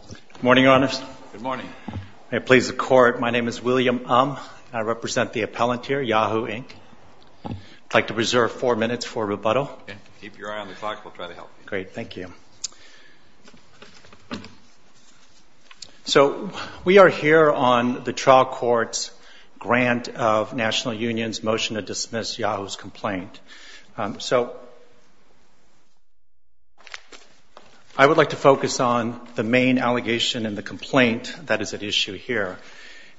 Good morning, Your Honors. Good morning. May it please the Court, my name is William Um, and I represent the appellant here, Yahoo! Inc. I'd like to reserve four minutes for rebuttal. Keep your eye on the clock, we'll try to help you. Great, thank you. So, we are here on the trial court's grant of National Union's motion to dismiss Yahoo's complaint. So, I would like to focus on the main allegation in the complaint that is at issue here.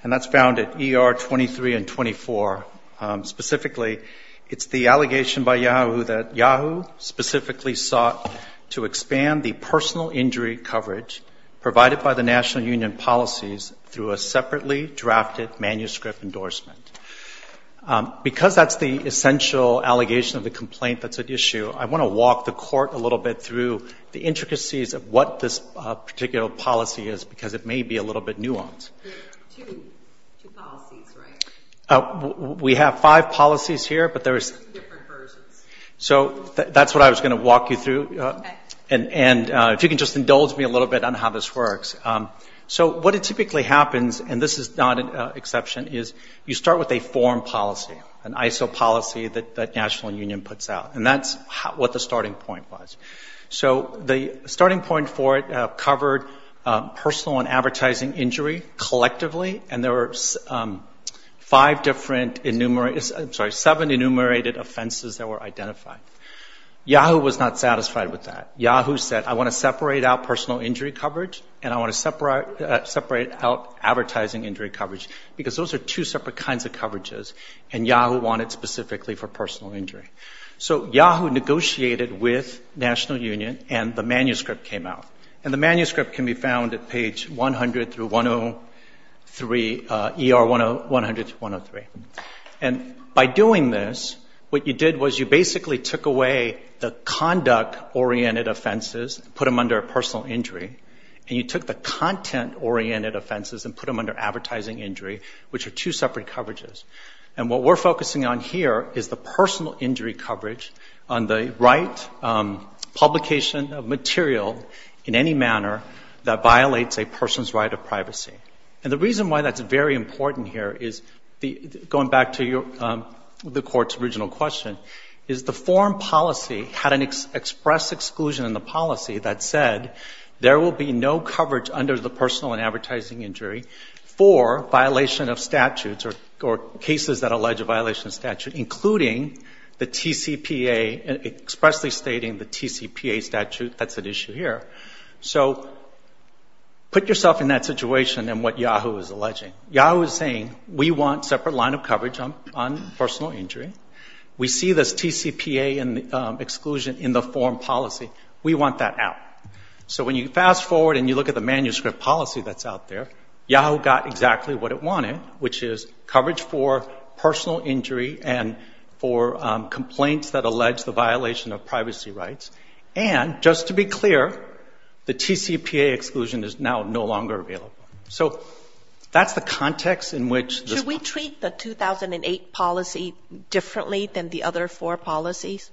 And that's found at ER 23 and 24. Specifically, it's the allegation by Yahoo! that Yahoo! specifically sought to expand the personal injury coverage provided by the National Union policies through a separately drafted manuscript endorsement. Because that's the essential allegation of the complaint that's at issue, I want to walk the Court a little bit through the intricacies of what this particular policy is, because it may be a little bit nuanced. Two policies, right? We have five policies here, but there is... Different versions. So, that's what I was going to walk you through. Okay. And if you can just indulge me a little bit on how this works. So, what typically happens, and this is not an exception, is you start with a foreign policy, an ISO policy that National Union puts out. And that's what the starting point was. So, the starting point for it covered personal and advertising injury collectively, and there were seven enumerated offenses that were identified. Yahoo! was not satisfied with that. Yahoo! said, I want to separate out personal injury coverage, and I want to separate out advertising injury coverage, because those are two separate kinds of coverages, and Yahoo! wanted specifically for personal injury. So, Yahoo! negotiated with National Union, and the manuscript came out. And the manuscript can be found at page 100-103, ER 100-103. And by doing this, what you did was you basically took away the conduct-oriented offenses, put them under personal injury, and you took the content-oriented offenses and put them under advertising injury, which are two separate coverages. And what we're focusing on here is the personal injury coverage on the right publication of material in any manner that violates a person's right of privacy. And the reason why that's very important here is, going back to the Court's original question, is the foreign policy had an express exclusion in the policy that said there will be no coverage under the personal and advertising injury for violation of statutes or cases that allege a violation of statute, including the TCPA, expressly stating the TCPA statute, that's at issue here. So, put yourself in that situation and what Yahoo! is alleging. Yahoo! is saying, we want separate line of coverage on personal injury. We see this TCPA exclusion in the foreign policy. We want that out. So, when you fast forward and you look at the manuscript policy that's out there, Yahoo! got exactly what it wanted, which is coverage for personal injury and for complaints that allege the violation of privacy rights. And, just to be clear, the TCPA exclusion is now no longer available. So, that's the context in which this policy... Should we treat the 2008 policy differently than the other four policies?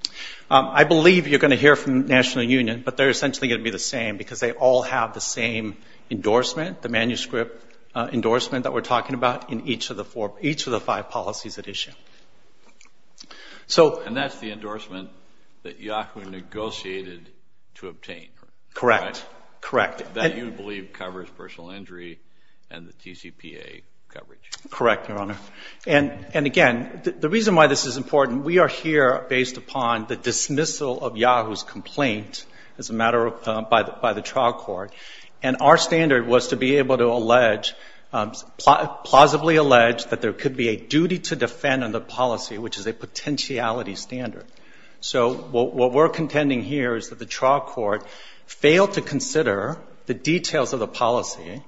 I believe you're going to hear from the National Union, but they're essentially going to be the same because they all have the same endorsement, the manuscript endorsement that we're talking about in each of the five policies at issue. And that's the endorsement that Yahoo! negotiated to obtain. Correct. That you believe covers personal injury and the TCPA coverage. Correct, Your Honor. And, again, the reason why this is important, we are here based upon the dismissal of Yahoo's complaint as a matter of... by the trial court. And our standard was to be able to allege, plausibly allege, that there could be a duty to defend on the policy, which is a potentiality standard. So, what we're contending here is that the trial court failed to consider the details of the policy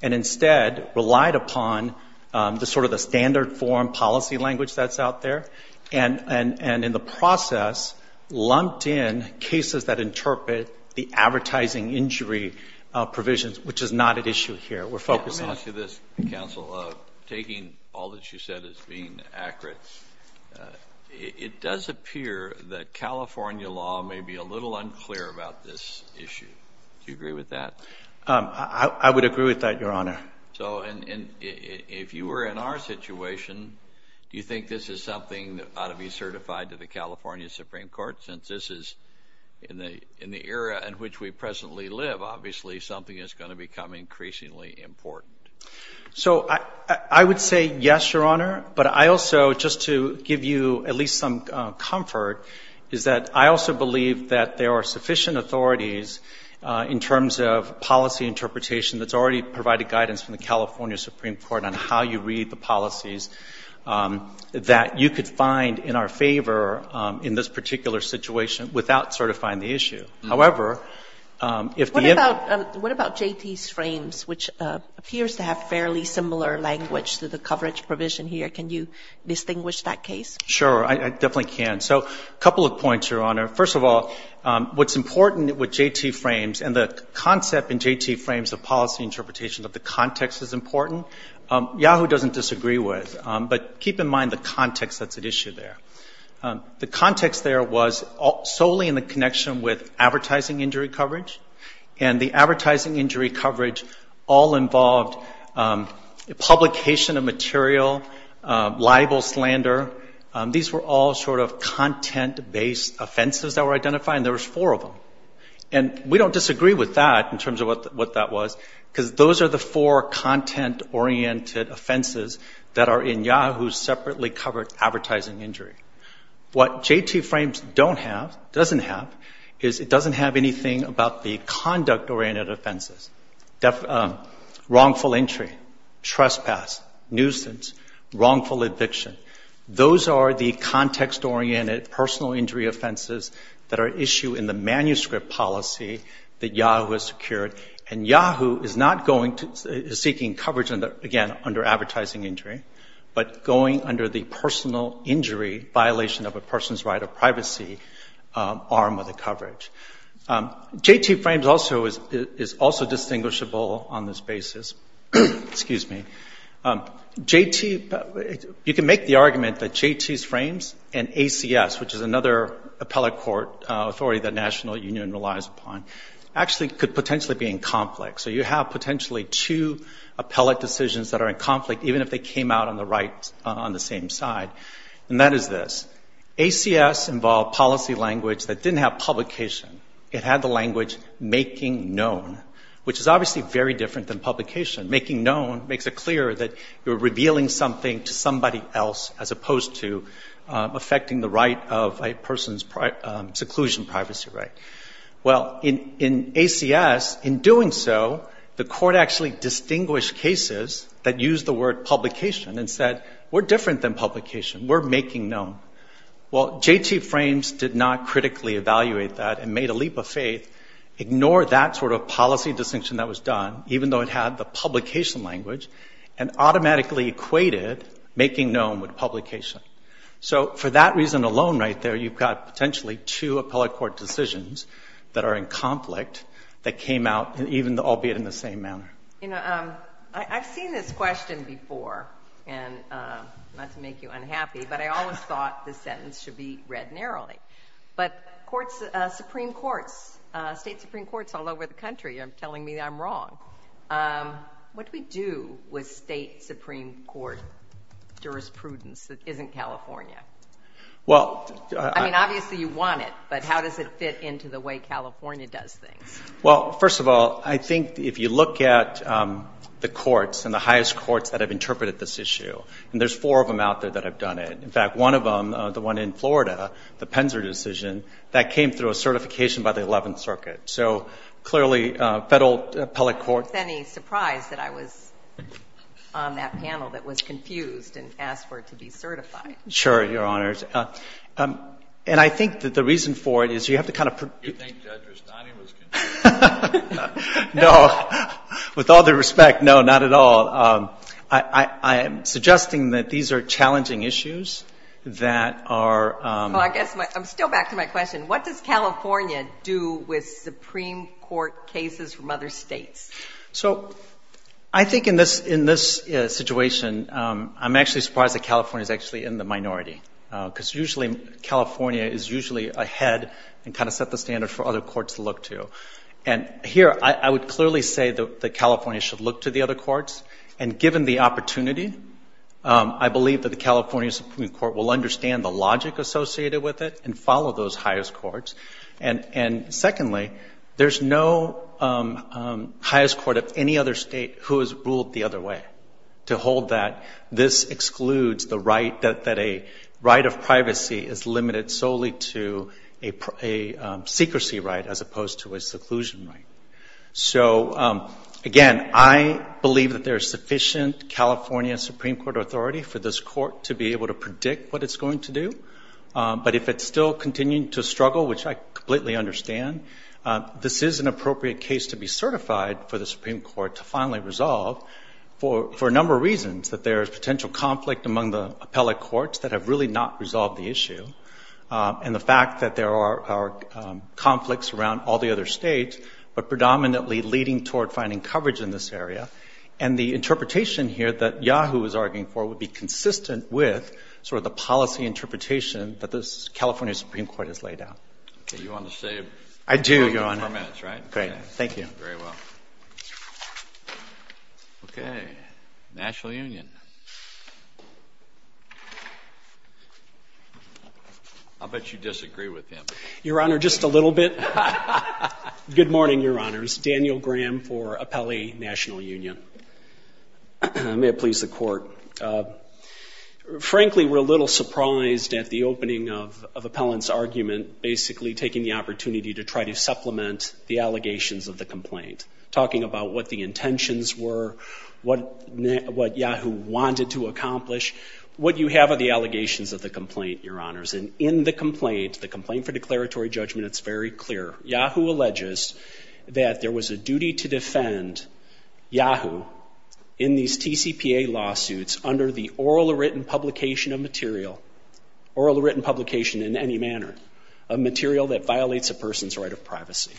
and, instead, relied upon the sort of the standard form policy language that's out there and, in the process, lumped in cases that interpret the advertising injury provisions, which is not at issue here. Let me ask you this, Counsel. Taking all that you said as being accurate, it does appear that California law may be a little unclear about this issue. Do you agree with that? I would agree with that, Your Honor. So, if you were in our situation, do you think this is something that ought to be certified to the California Supreme Court? Since this is in the era in which we presently live, obviously something is going to become increasingly important. So, I would say yes, Your Honor. But I also, just to give you at least some comfort, is that I also believe that there are sufficient authorities in terms of policy interpretation that's already provided guidance from the California Supreme Court on how you read the policies that you could find in our favor in this particular situation without certifying the issue. What about JT's frames, which appears to have fairly similar language to the coverage provision here? Can you distinguish that case? Sure, I definitely can. So, a couple of points, Your Honor. First of all, what's important with JT frames, and the concept in JT frames of policy interpretation that the context is important, Yahoo! doesn't disagree with. But keep in mind the context that's at issue there. The context there was solely in the connection with advertising injury coverage, and the advertising injury coverage all involved publication of material, libel, slander. These were all sort of content-based offenses that were identified, and there were four of them. And we don't disagree with that in terms of what that was, because those are the four content-oriented offenses that are in Yahoo! separately covered advertising injury. What JT frames don't have, doesn't have, is it doesn't have anything about the conduct-oriented offenses, wrongful entry, trespass, nuisance, wrongful eviction. Those are the context-oriented personal injury offenses that are at issue in the manuscript policy that Yahoo! has secured. And Yahoo! is not seeking coverage, again, under advertising injury, but going under the personal injury violation of a person's right of privacy arm of the coverage. JT frames is also distinguishable on this basis. You can make the argument that JT's frames and ACS, which is another appellate court authority that the National Union relies upon, actually could potentially be in conflict. So you have potentially two appellate decisions that are in conflict, even if they came out on the right on the same side. And that is this. ACS involved policy language that didn't have publication. It had the language making known, which is obviously very different than publication. Making known makes it clear that you're revealing something to somebody else as opposed to affecting the right of a person's seclusion privacy right. Well, in ACS, in doing so, the court actually distinguished cases that used the word publication and said, we're different than publication. We're making known. Well, JT frames did not critically evaluate that and made a leap of faith, ignore that sort of policy distinction that was done, even though it had the publication language, and automatically equated making known with publication. So for that reason alone right there, you've got potentially two appellate court decisions that are in conflict that came out, albeit in the same manner. You know, I've seen this question before, and not to make you unhappy, but I always thought this sentence should be read narrowly. But Supreme Courts, state Supreme Courts all over the country are telling me I'm wrong. What do we do with state Supreme Court jurisprudence that isn't California? I mean, obviously you want it, but how does it fit into the way California does things? Well, first of all, I think if you look at the courts and the highest courts that have interpreted this issue, and there's four of them out there that have done it. In fact, one of them, the one in Florida, the Penzer decision, that came through a certification by the 11th Circuit. So clearly federal appellate court. I don't think it's any surprise that I was on that panel that was confused and asked for it to be certified. Sure, Your Honors. And I think that the reason for it is you have to kind of... You think Judge Rustani was confused? No. With all due respect, no, not at all. I am suggesting that these are challenging issues that are... Well, I guess I'm still back to my question. What does California do with Supreme Court cases from other states? So I think in this situation, I'm actually surprised that California is actually in the minority because usually California is usually ahead and kind of set the standard for other courts to look to. And here I would clearly say that California should look to the other courts, and given the opportunity, I believe that the California Supreme Court will understand the logic associated with it and follow those highest courts. And secondly, there's no highest court of any other state who has ruled the other way to hold that this excludes the right that a right of privacy is limited solely to a secrecy right as opposed to a seclusion right. So again, I believe that there is sufficient California Supreme Court authority for this court to be able to predict what it's going to do. But if it's still continuing to struggle, which I completely understand, this is an appropriate case to be certified for the Supreme Court to finally resolve for a number of reasons, that there is potential conflict among the appellate courts that have really not resolved the issue, and the fact that there are conflicts around all the other states but predominantly leading toward finding coverage in this area. And the interpretation here that Yahoo is arguing for would be consistent with sort of the policy interpretation that the California Supreme Court has laid out. Okay. You want to say a few more minutes, right? I do, Your Honor. Great. Thank you. Very well. Okay. National Union. I'll bet you disagree with him. Your Honor, just a little bit. Good morning, Your Honors. Daniel Graham for Appellee National Union. May it please the Court. Frankly, we're a little surprised at the opening of Appellant's argument, basically taking the opportunity to try to supplement the allegations of the complaint, talking about what the intentions were, what Yahoo wanted to accomplish. What you have are the allegations of the complaint, Your Honors. And in the complaint, the complaint for declaratory judgment, it's very clear. Yahoo alleges that there was a duty to defend Yahoo in these TCPA lawsuits under the oral or written publication of material, oral or written publication in any manner, of material that violates a person's right of privacy.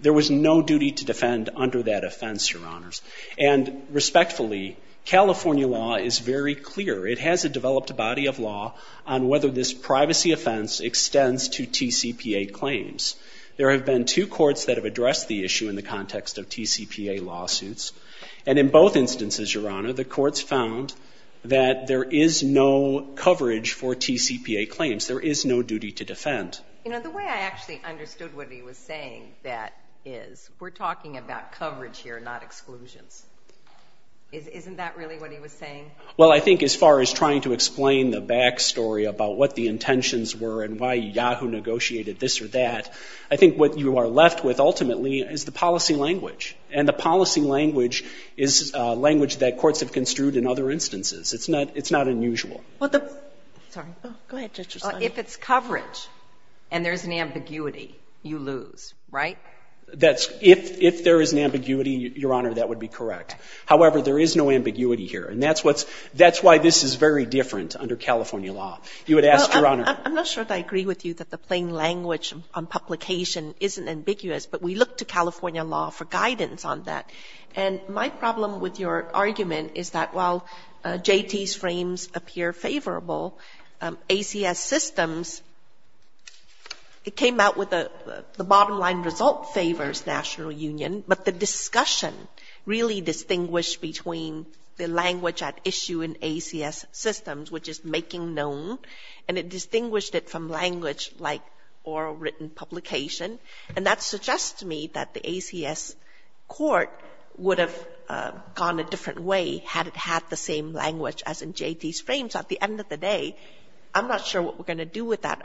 There was no duty to defend under that offense, Your Honors. And respectfully, California law is very clear. It has a developed body of law on whether this privacy offense extends to TCPA claims. There have been two courts that have addressed the issue in the context of TCPA lawsuits. And in both instances, Your Honor, the courts found that there is no coverage for TCPA claims. There is no duty to defend. You know, the way I actually understood what he was saying, that is, we're talking about coverage here, not exclusions. Isn't that really what he was saying? Well, I think as far as trying to explain the back story about what the intentions were and why Yahoo negotiated this or that, I think what you are left with ultimately is the policy language. And the policy language is language that courts have construed in other instances. It's not unusual. Sorry. Go ahead, Justice O'Connor. If it's coverage and there's an ambiguity, you lose, right? If there is an ambiguity, Your Honor, that would be correct. However, there is no ambiguity here. And that's why this is very different under California law. You would ask, Your Honor? I'm not sure that I agree with you that the plain language on publication isn't ambiguous, but we look to California law for guidance on that. And my problem with your argument is that while JT's frames appear favorable, ACS systems, it came out with the bottom line result favors national union, but the discussion really distinguished between the language at issue in ACS systems, which is making known, and it distinguished it from language like oral written publication. And that suggests to me that the ACS court would have gone a different way had it had the same language as in JT's frames. At the end of the day, I'm not sure what we're going to do with that,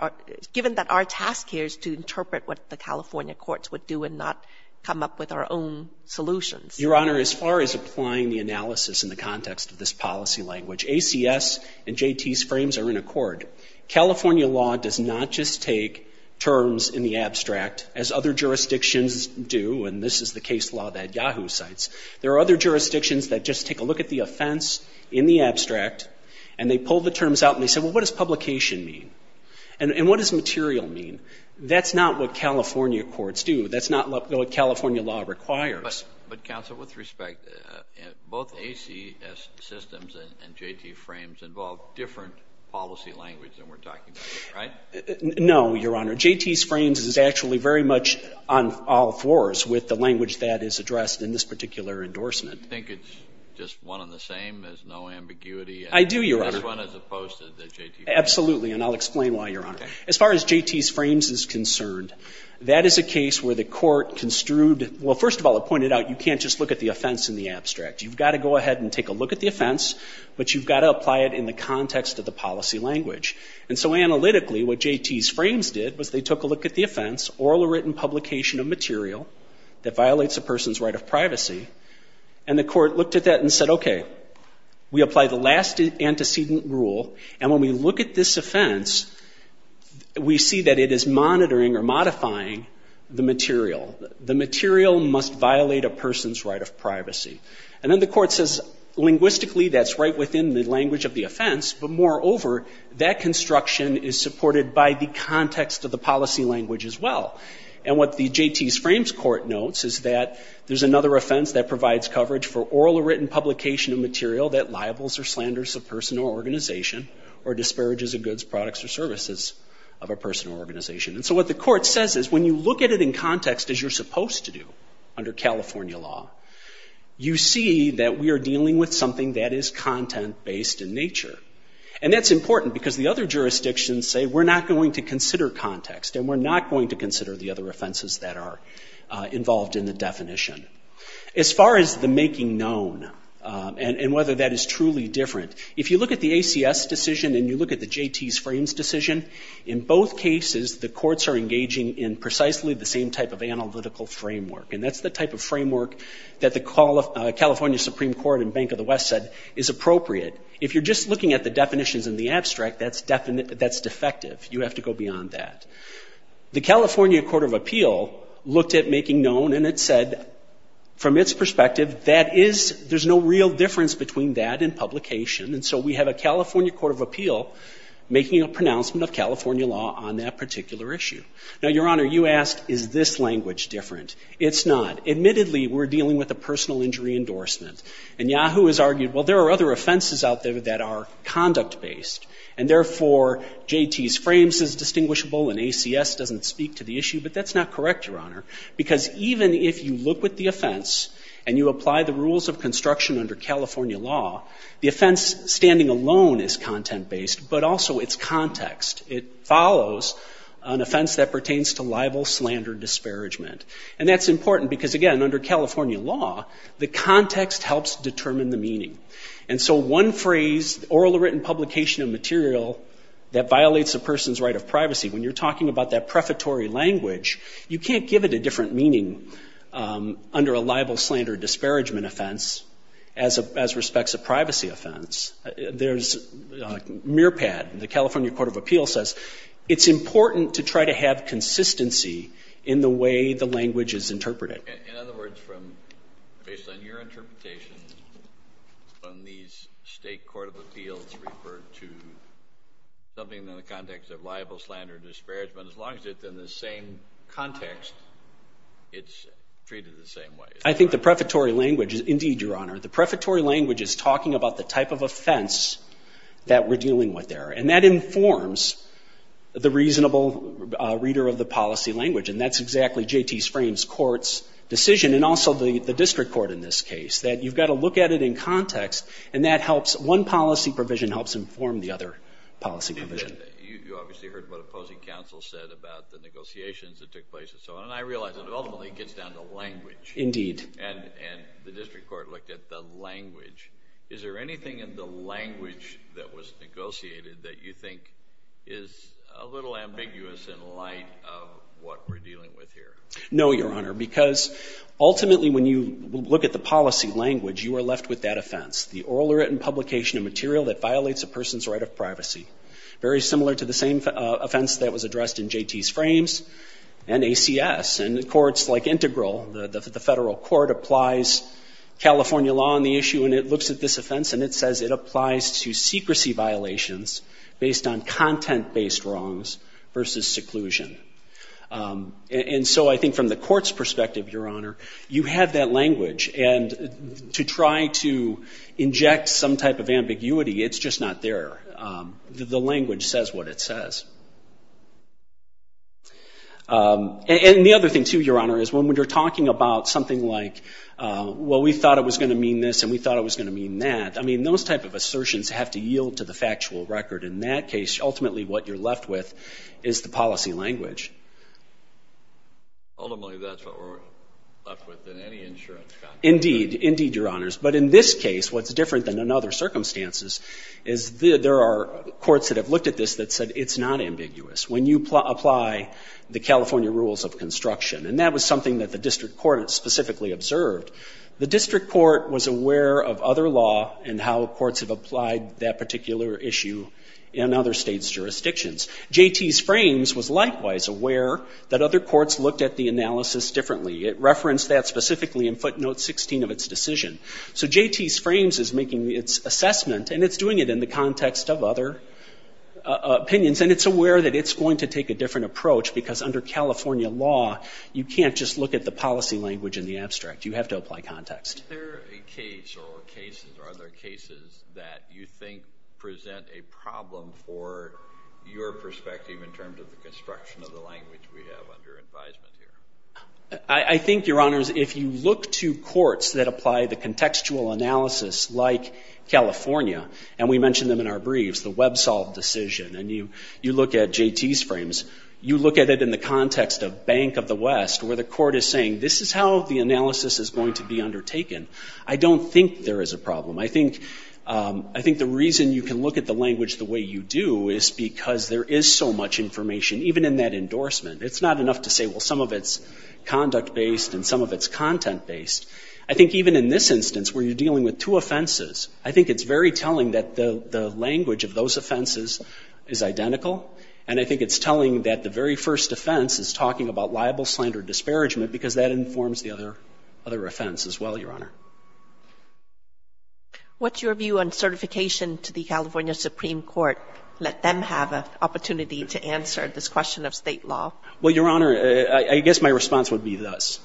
given that our task here is to interpret what the California courts would do and not come up with our own solutions. Your Honor, as far as applying the analysis in the context of this policy language, ACS and JT's frames are in accord. California law does not just take terms in the abstract, as other jurisdictions do, and this is the case law that Yahoo cites. There are other jurisdictions that just take a look at the offense in the abstract and they pull the terms out and they say, well, what does publication mean? And what does material mean? That's not what California courts do. That's not what California law requires. But, counsel, with respect, both ACS systems and JT frames involve different policy language than we're talking about, right? No, Your Honor. JT's frames is actually very much on all fours with the language that is addressed in this particular endorsement. Do you think it's just one and the same, there's no ambiguity? I do, Your Honor. This one is opposed to the JT frames. Absolutely, and I'll explain why, Your Honor. As far as JT's frames is concerned, that is a case where the court construed that, well, first of all, it pointed out you can't just look at the offense in the abstract. You've got to go ahead and take a look at the offense, but you've got to apply it in the context of the policy language. And so, analytically, what JT's frames did was they took a look at the offense, oral or written publication of material that violates a person's right of privacy, and the court looked at that and said, okay, we apply the last antecedent rule, and when we look at this offense, we see that it is monitoring or modifying the material. The material must violate a person's right of privacy. And then the court says, linguistically, that's right within the language of the offense, but moreover, that construction is supported by the context of the policy language as well. And what the JT's frames court notes is that there's another offense that provides coverage for oral or written publication of material that liables or slanders a person or organization or disparages the goods, products, or services of a person or organization. And so what the court says is when you look at it in context as you're supposed to do under California law, you see that we are dealing with something that is content-based in nature. And that's important because the other jurisdictions say we're not going to consider context and we're not going to consider the other offenses that are involved in the definition. As far as the making known and whether that is truly different, if you look at the ACS decision and you look at the JT's frames decision, in both cases the courts are engaging in precisely the same type of analytical framework. And that's the type of framework that the California Supreme Court and Bank of the West said is appropriate. If you're just looking at the definitions in the abstract, that's defective. You have to go beyond that. The California Court of Appeal looked at making known and it said, from its perspective, there's no real difference between that and publication. And so we have a California Court of Appeal making a pronouncement of California law on that particular issue. Now, Your Honor, you asked, is this language different? It's not. Admittedly, we're dealing with a personal injury endorsement. And Yahoo has argued, well, there are other offenses out there that are conduct-based. And therefore, JT's frames is distinguishable and ACS doesn't speak to the issue. But that's not correct, Your Honor, because even if you look with the offense and you apply the rules of construction under California law, the offense standing alone is content-based, but also it's context. It follows an offense that pertains to libel, slander, disparagement. And that's important because, again, under California law, the context helps determine the meaning. And so one phrase, oral or written publication of material that violates a person's right of privacy, when you're talking about that prefatory language, you can't give it a different meaning under a libel, slander, disparagement offense as respects a privacy offense. There's MirPAD. The California Court of Appeal says it's important to try to have consistency in the way the language is interpreted. Kennedy. In other words, based on your interpretation, when these State Court of Appeals refer to something in the context of libel, slander, and disparagement, as long as it's in the same context, it's treated the same way. I think the prefatory language is, indeed, Your Honor, the prefatory language is talking about the type of offense that we're dealing with there. And that informs the reasonable reader of the policy language. And that's exactly J.T. Frames Court's decision, and also the district court in this case, that you've got to look at it in context, and that helps. One policy provision helps inform the other policy provision. You obviously heard what opposing counsel said about the negotiations that took place and so on, and I realize it ultimately gets down to language. Indeed. And the district court looked at the language. Is there anything in the language that was negotiated that you think is a little ambiguous in light of what we're dealing with here? No, Your Honor, because ultimately when you look at the policy language, you are left with that offense, the oral or written publication of material that violates a person's right of privacy. Very similar to the same offense that was addressed in J.T.'s frames and ACS. And courts like Integral, the federal court, applies California law on the issue, and it looks at this offense and it says it applies to secrecy violations based on content-based wrongs versus seclusion. And so I think from the court's perspective, Your Honor, you have that language. And to try to inject some type of ambiguity, it's just not there. The language says what it says. And the other thing, too, Your Honor, is when you're talking about something like, well, we thought it was going to mean this and we thought it was going to mean that, I mean, those type of assertions have to yield to the factual record. In that case, ultimately what you're left with is the policy language. Ultimately that's what we're left with in any insurance contract. Indeed. Indeed, Your Honors. But in this case what's different than in other circumstances is there are courts that have looked at this that said it's not ambiguous when you apply the California rules of construction. And that was something that the district court specifically observed. The district court was aware of other law and how courts have applied that particular issue in other states' jurisdictions. J.T.'s frames was likewise aware that other courts looked at the analysis differently. It referenced that specifically in footnote 16 of its decision. So J.T.'s frames is making its assessment and it's doing it in the context of other opinions. And it's aware that it's going to take a different approach because under California law, you can't just look at the policy language in the abstract. You have to apply context. Is there a case or cases or other cases that you think present a problem for your perspective in terms of the construction of the language we have under advisement here? I think, Your Honors, if you look to courts that apply the contextual analysis like California, and we mentioned them in our briefs, the WebSolve decision, and you look at J.T.'s frames, you look at it in the context of Bank of the West where the court is saying, this is how the analysis is going to be undertaken. I don't think there is a problem. I think the reason you can look at the language the way you do is because there is so much information. Even in that endorsement, it's not enough to say, well, some of it's conduct-based and some of it's content-based. I think even in this instance where you're dealing with two offenses, I think it's very telling that the language of those offenses is identical. And I think it's telling that the very first offense is talking about liable slander or disparagement because that informs the other offense as well, Your Honor. What's your view on certification to the California Supreme Court? Let them have an opportunity to answer this question of state law. Well, Your Honor, I guess my response would be this.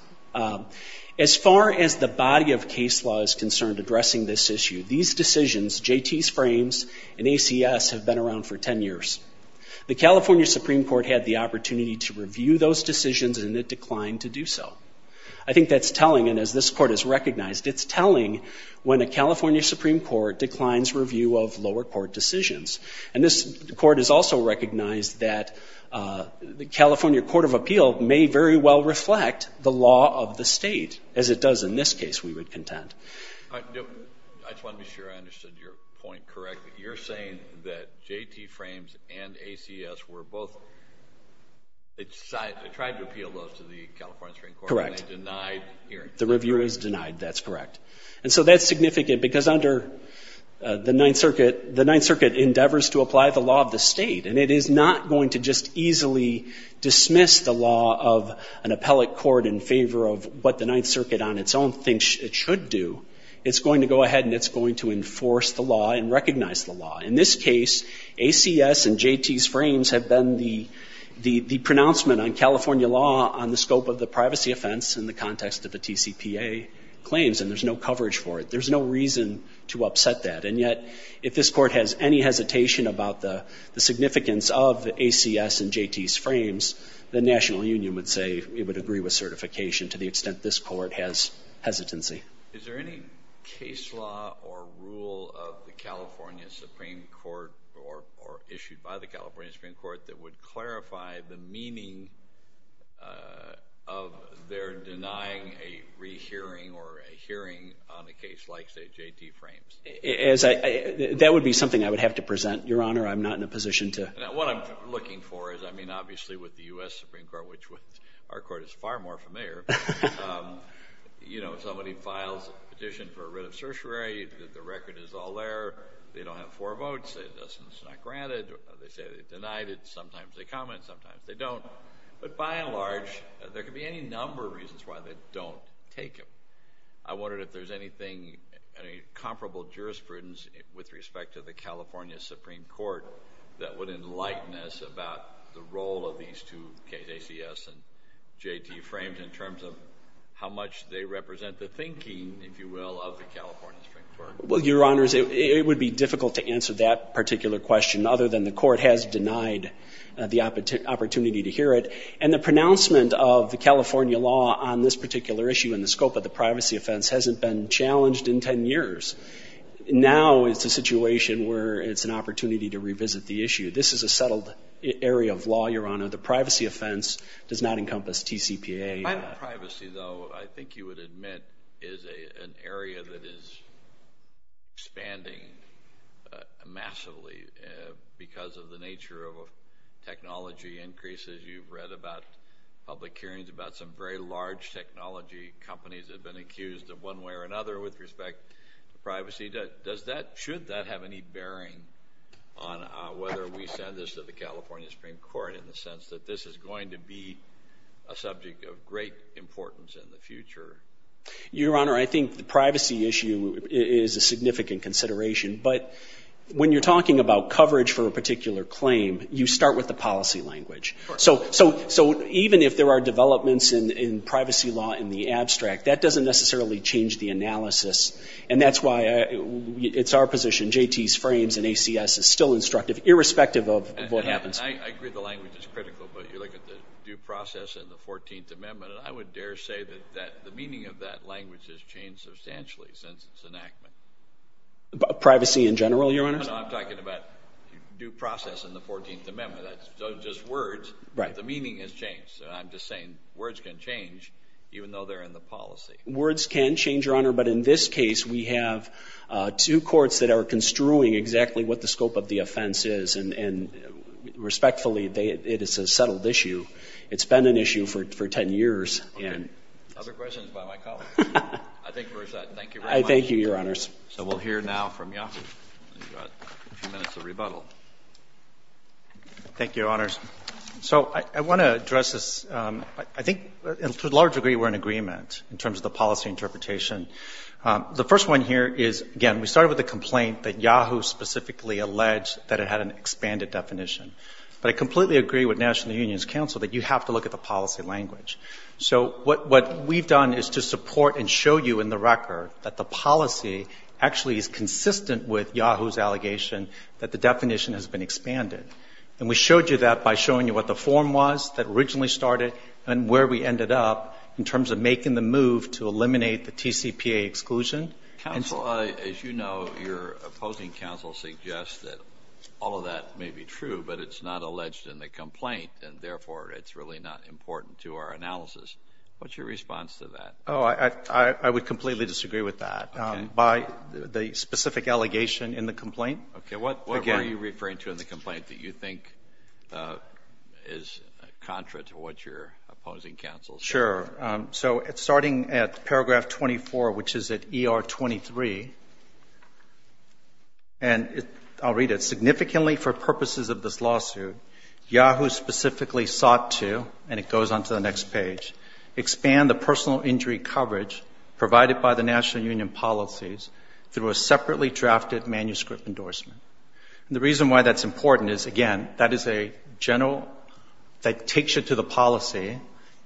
As far as the body of case law is concerned addressing this issue, these decisions, JT.'s frames and ACS, have been around for 10 years. The California Supreme Court had the opportunity to review those decisions and it declined to do so. I think that's telling, and as this Court has recognized, it's telling when a California Supreme Court declines review of lower court decisions. And this Court has also recognized that the California Court of Appeal may very well reflect the law of the state, as it does in this case, we would contend. I just want to be sure I understood your point correctly. You're saying that JT. frames and ACS were both, they tried to appeal those to the California Supreme Court. Correct. And they denied hearing. The review is denied. That's correct. And so that's significant because under the Ninth Circuit, the Ninth Circuit endeavors to apply the law of the state. And it is not going to just easily dismiss the law of an appellate court in favor of what the Ninth Circuit on its own thinks it should do. It's going to go ahead and it's going to enforce the law and recognize the law. In this case, ACS and JT.'s frames have been the pronouncement on California law on the scope of the privacy offense in the context of the TCPA claims, and there's no coverage for it. There's no reason to upset that. And yet if this Court has any hesitation about the significance of ACS and JT.'s frames, the National Union would say it would agree with certification to the extent this Court has hesitancy. Is there any case law or rule of the California Supreme Court or issued by the California Supreme Court that would clarify the meaning of their denying a rehearing or a hearing on a case like, say, JT.'s frames? That would be something I would have to present, Your Honor. I'm not in a position to. What I'm looking for is, I mean, obviously with the U.S. Supreme Court, which our Court is far more familiar, you know, if somebody files a petition for a writ of certiorari, the record is all there. They don't have four votes. It's not granted. They say they denied it. Sometimes they comment. Sometimes they don't. But by and large, there could be any number of reasons why they don't take it. I wondered if there's anything, any comparable jurisprudence with respect to the California Supreme Court that would enlighten us about the role of these two cases, ACS and JT. frames, in terms of how much they represent the thinking, if you will, of the California Supreme Court? Well, Your Honors, it would be difficult to answer that particular question, other than the Court has denied the opportunity to hear it. And the pronouncement of the California law on this particular issue in the scope of the privacy offense hasn't been challenged in ten years. Now it's a situation where it's an opportunity to revisit the issue. This is a settled area of law, Your Honor. The privacy offense does not encompass TCPA. Privacy, though, I think you would admit, is an area that is expanding massively because of the nature of technology increases. You've read about public hearings about some very large technology companies that have been accused of one way or another with respect to privacy. Should that have any bearing on whether we send this to the California Supreme Court in the sense that this is going to be a subject of great importance in the future? Your Honor, I think the privacy issue is a significant consideration. But when you're talking about coverage for a particular claim, you start with the policy language. So even if there are developments in privacy law in the abstract, that doesn't necessarily change the analysis, and that's why it's our position JT's frames and ACS is still instructive, irrespective of what happens. I agree the language is critical, but you look at the due process in the 14th Amendment, and I would dare say that the meaning of that language has changed substantially since its enactment. Privacy in general, Your Honor? No, no, I'm talking about due process in the 14th Amendment. That's just words, but the meaning has changed. So I'm just saying words can change, even though they're in the policy. Words can change, Your Honor, but in this case, we have two courts that are construing exactly what the scope of the offense is and respectfully, it is a settled issue. It's been an issue for 10 years. Okay. Other questions by my colleague? I think we're set. Thank you very much. Thank you, Your Honors. So we'll hear now from Yahoo. You've got a few minutes of rebuttal. Thank you, Your Honors. So I want to address this. I think to a large degree we're in agreement in terms of the policy interpretation. The first one here is, again, we started with the complaint that Yahoo specifically alleged that it had an expanded definition. But I completely agree with National Union's counsel that you have to look at the policy language. So what we've done is to support and show you in the record that the policy actually is consistent with Yahoo's allegation that the definition has been expanded. And we showed you that by showing you what the form was that originally started and where we ended up in terms of making the move to eliminate the TCPA exclusion. Counsel, as you know, your opposing counsel suggests that all of that may be true, but it's not alleged in the complaint, and therefore it's really not important to our analysis. What's your response to that? Oh, I would completely disagree with that. Okay. By the specific allegation in the complaint. Okay. What were you referring to in the complaint that you think is contrary to what your opposing counsel said? Sure. So starting at paragraph 24, which is at ER 23, and I'll read it. Significantly for purposes of this lawsuit, Yahoo specifically sought to, and it goes on to the next page, expand the personal injury coverage provided by the National Union policies through a separately drafted manuscript endorsement. And the reason why that's important is, again, that is a general that takes you to the policy,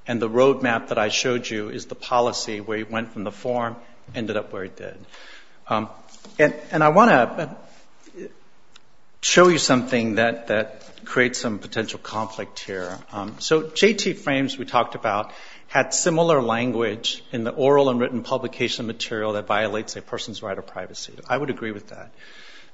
and the roadmap that I showed you is the policy where you went from the form and ended up where it did. And I want to show you something that creates some potential conflict here. So JT Frames we talked about had similar language in the oral and written publication material that violates a person's right of privacy. I would agree with that.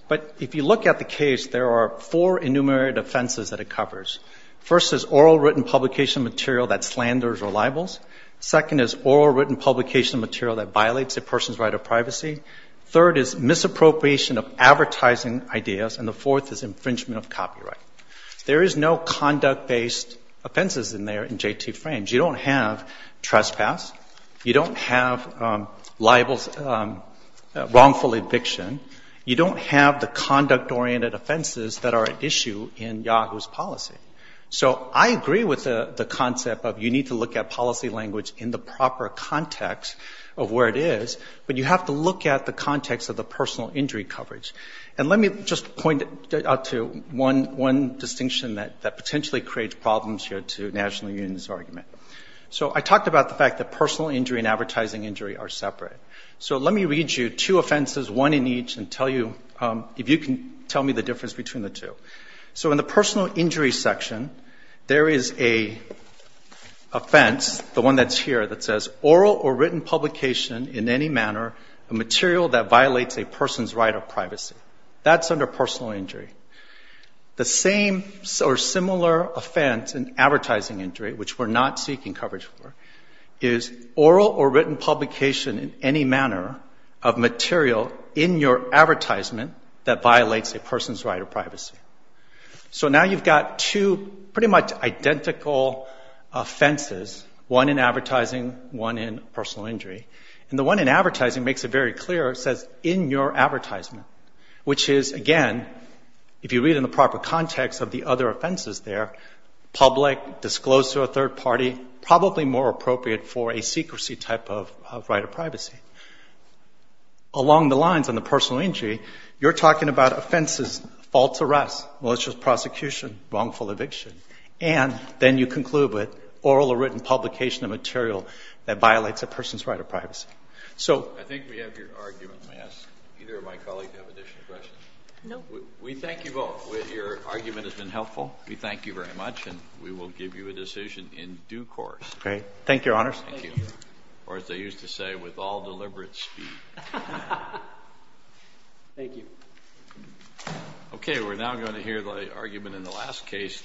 But if you look at the case, there are four enumerated offenses that it covers. First is oral written publication material that slanders or libels. Second is oral written publication material that violates a person's right of privacy. Third is misappropriation of advertising ideas. And the fourth is infringement of copyright. There is no conduct-based offenses in there in JT Frames. You don't have trespass. You don't have wrongful eviction. You don't have the conduct-oriented offenses that are at issue in Yahoo's policy. So I agree with the concept of you need to look at policy language in the proper context of where it is, but you have to look at the context of the personal injury coverage. And let me just point out to one distinction that potentially creates problems here to National Union's argument. So I talked about the fact that personal injury and advertising injury are separate. So let me read you two offenses, one in each, and tell you if you can tell me the difference between the two. So in the personal injury section, there is a offense, the one that's here, that says oral or written publication in any manner, a material that violates a person's right of privacy. That's under personal injury. The same or similar offense in advertising injury, which we're not seeking coverage for, is oral or written publication in any manner of material in your advertisement that violates a person's right of privacy. So now you've got two pretty much identical offenses, one in advertising, one in personal injury. And the one in advertising makes it very clear. It says in your advertisement, which is, again, if you read in the proper context of the other offenses there, public, disclosed to a third party, probably more appropriate for a secrecy type of right of privacy. Along the lines in the personal injury, you're talking about offenses, false arrests, malicious prosecution, wrongful eviction. And then you conclude with oral or written publication of material that violates a person's right of privacy. So I think we have your argument. May I ask either of my colleagues to have additional questions? No. We thank you both. Your argument has been helpful. We thank you very much. And we will give you a decision in due course. Thank you, Your Honors. Thank you. Or as they used to say, with all deliberate speed. Thank you. Okay. We're now going to hear the argument in the last case.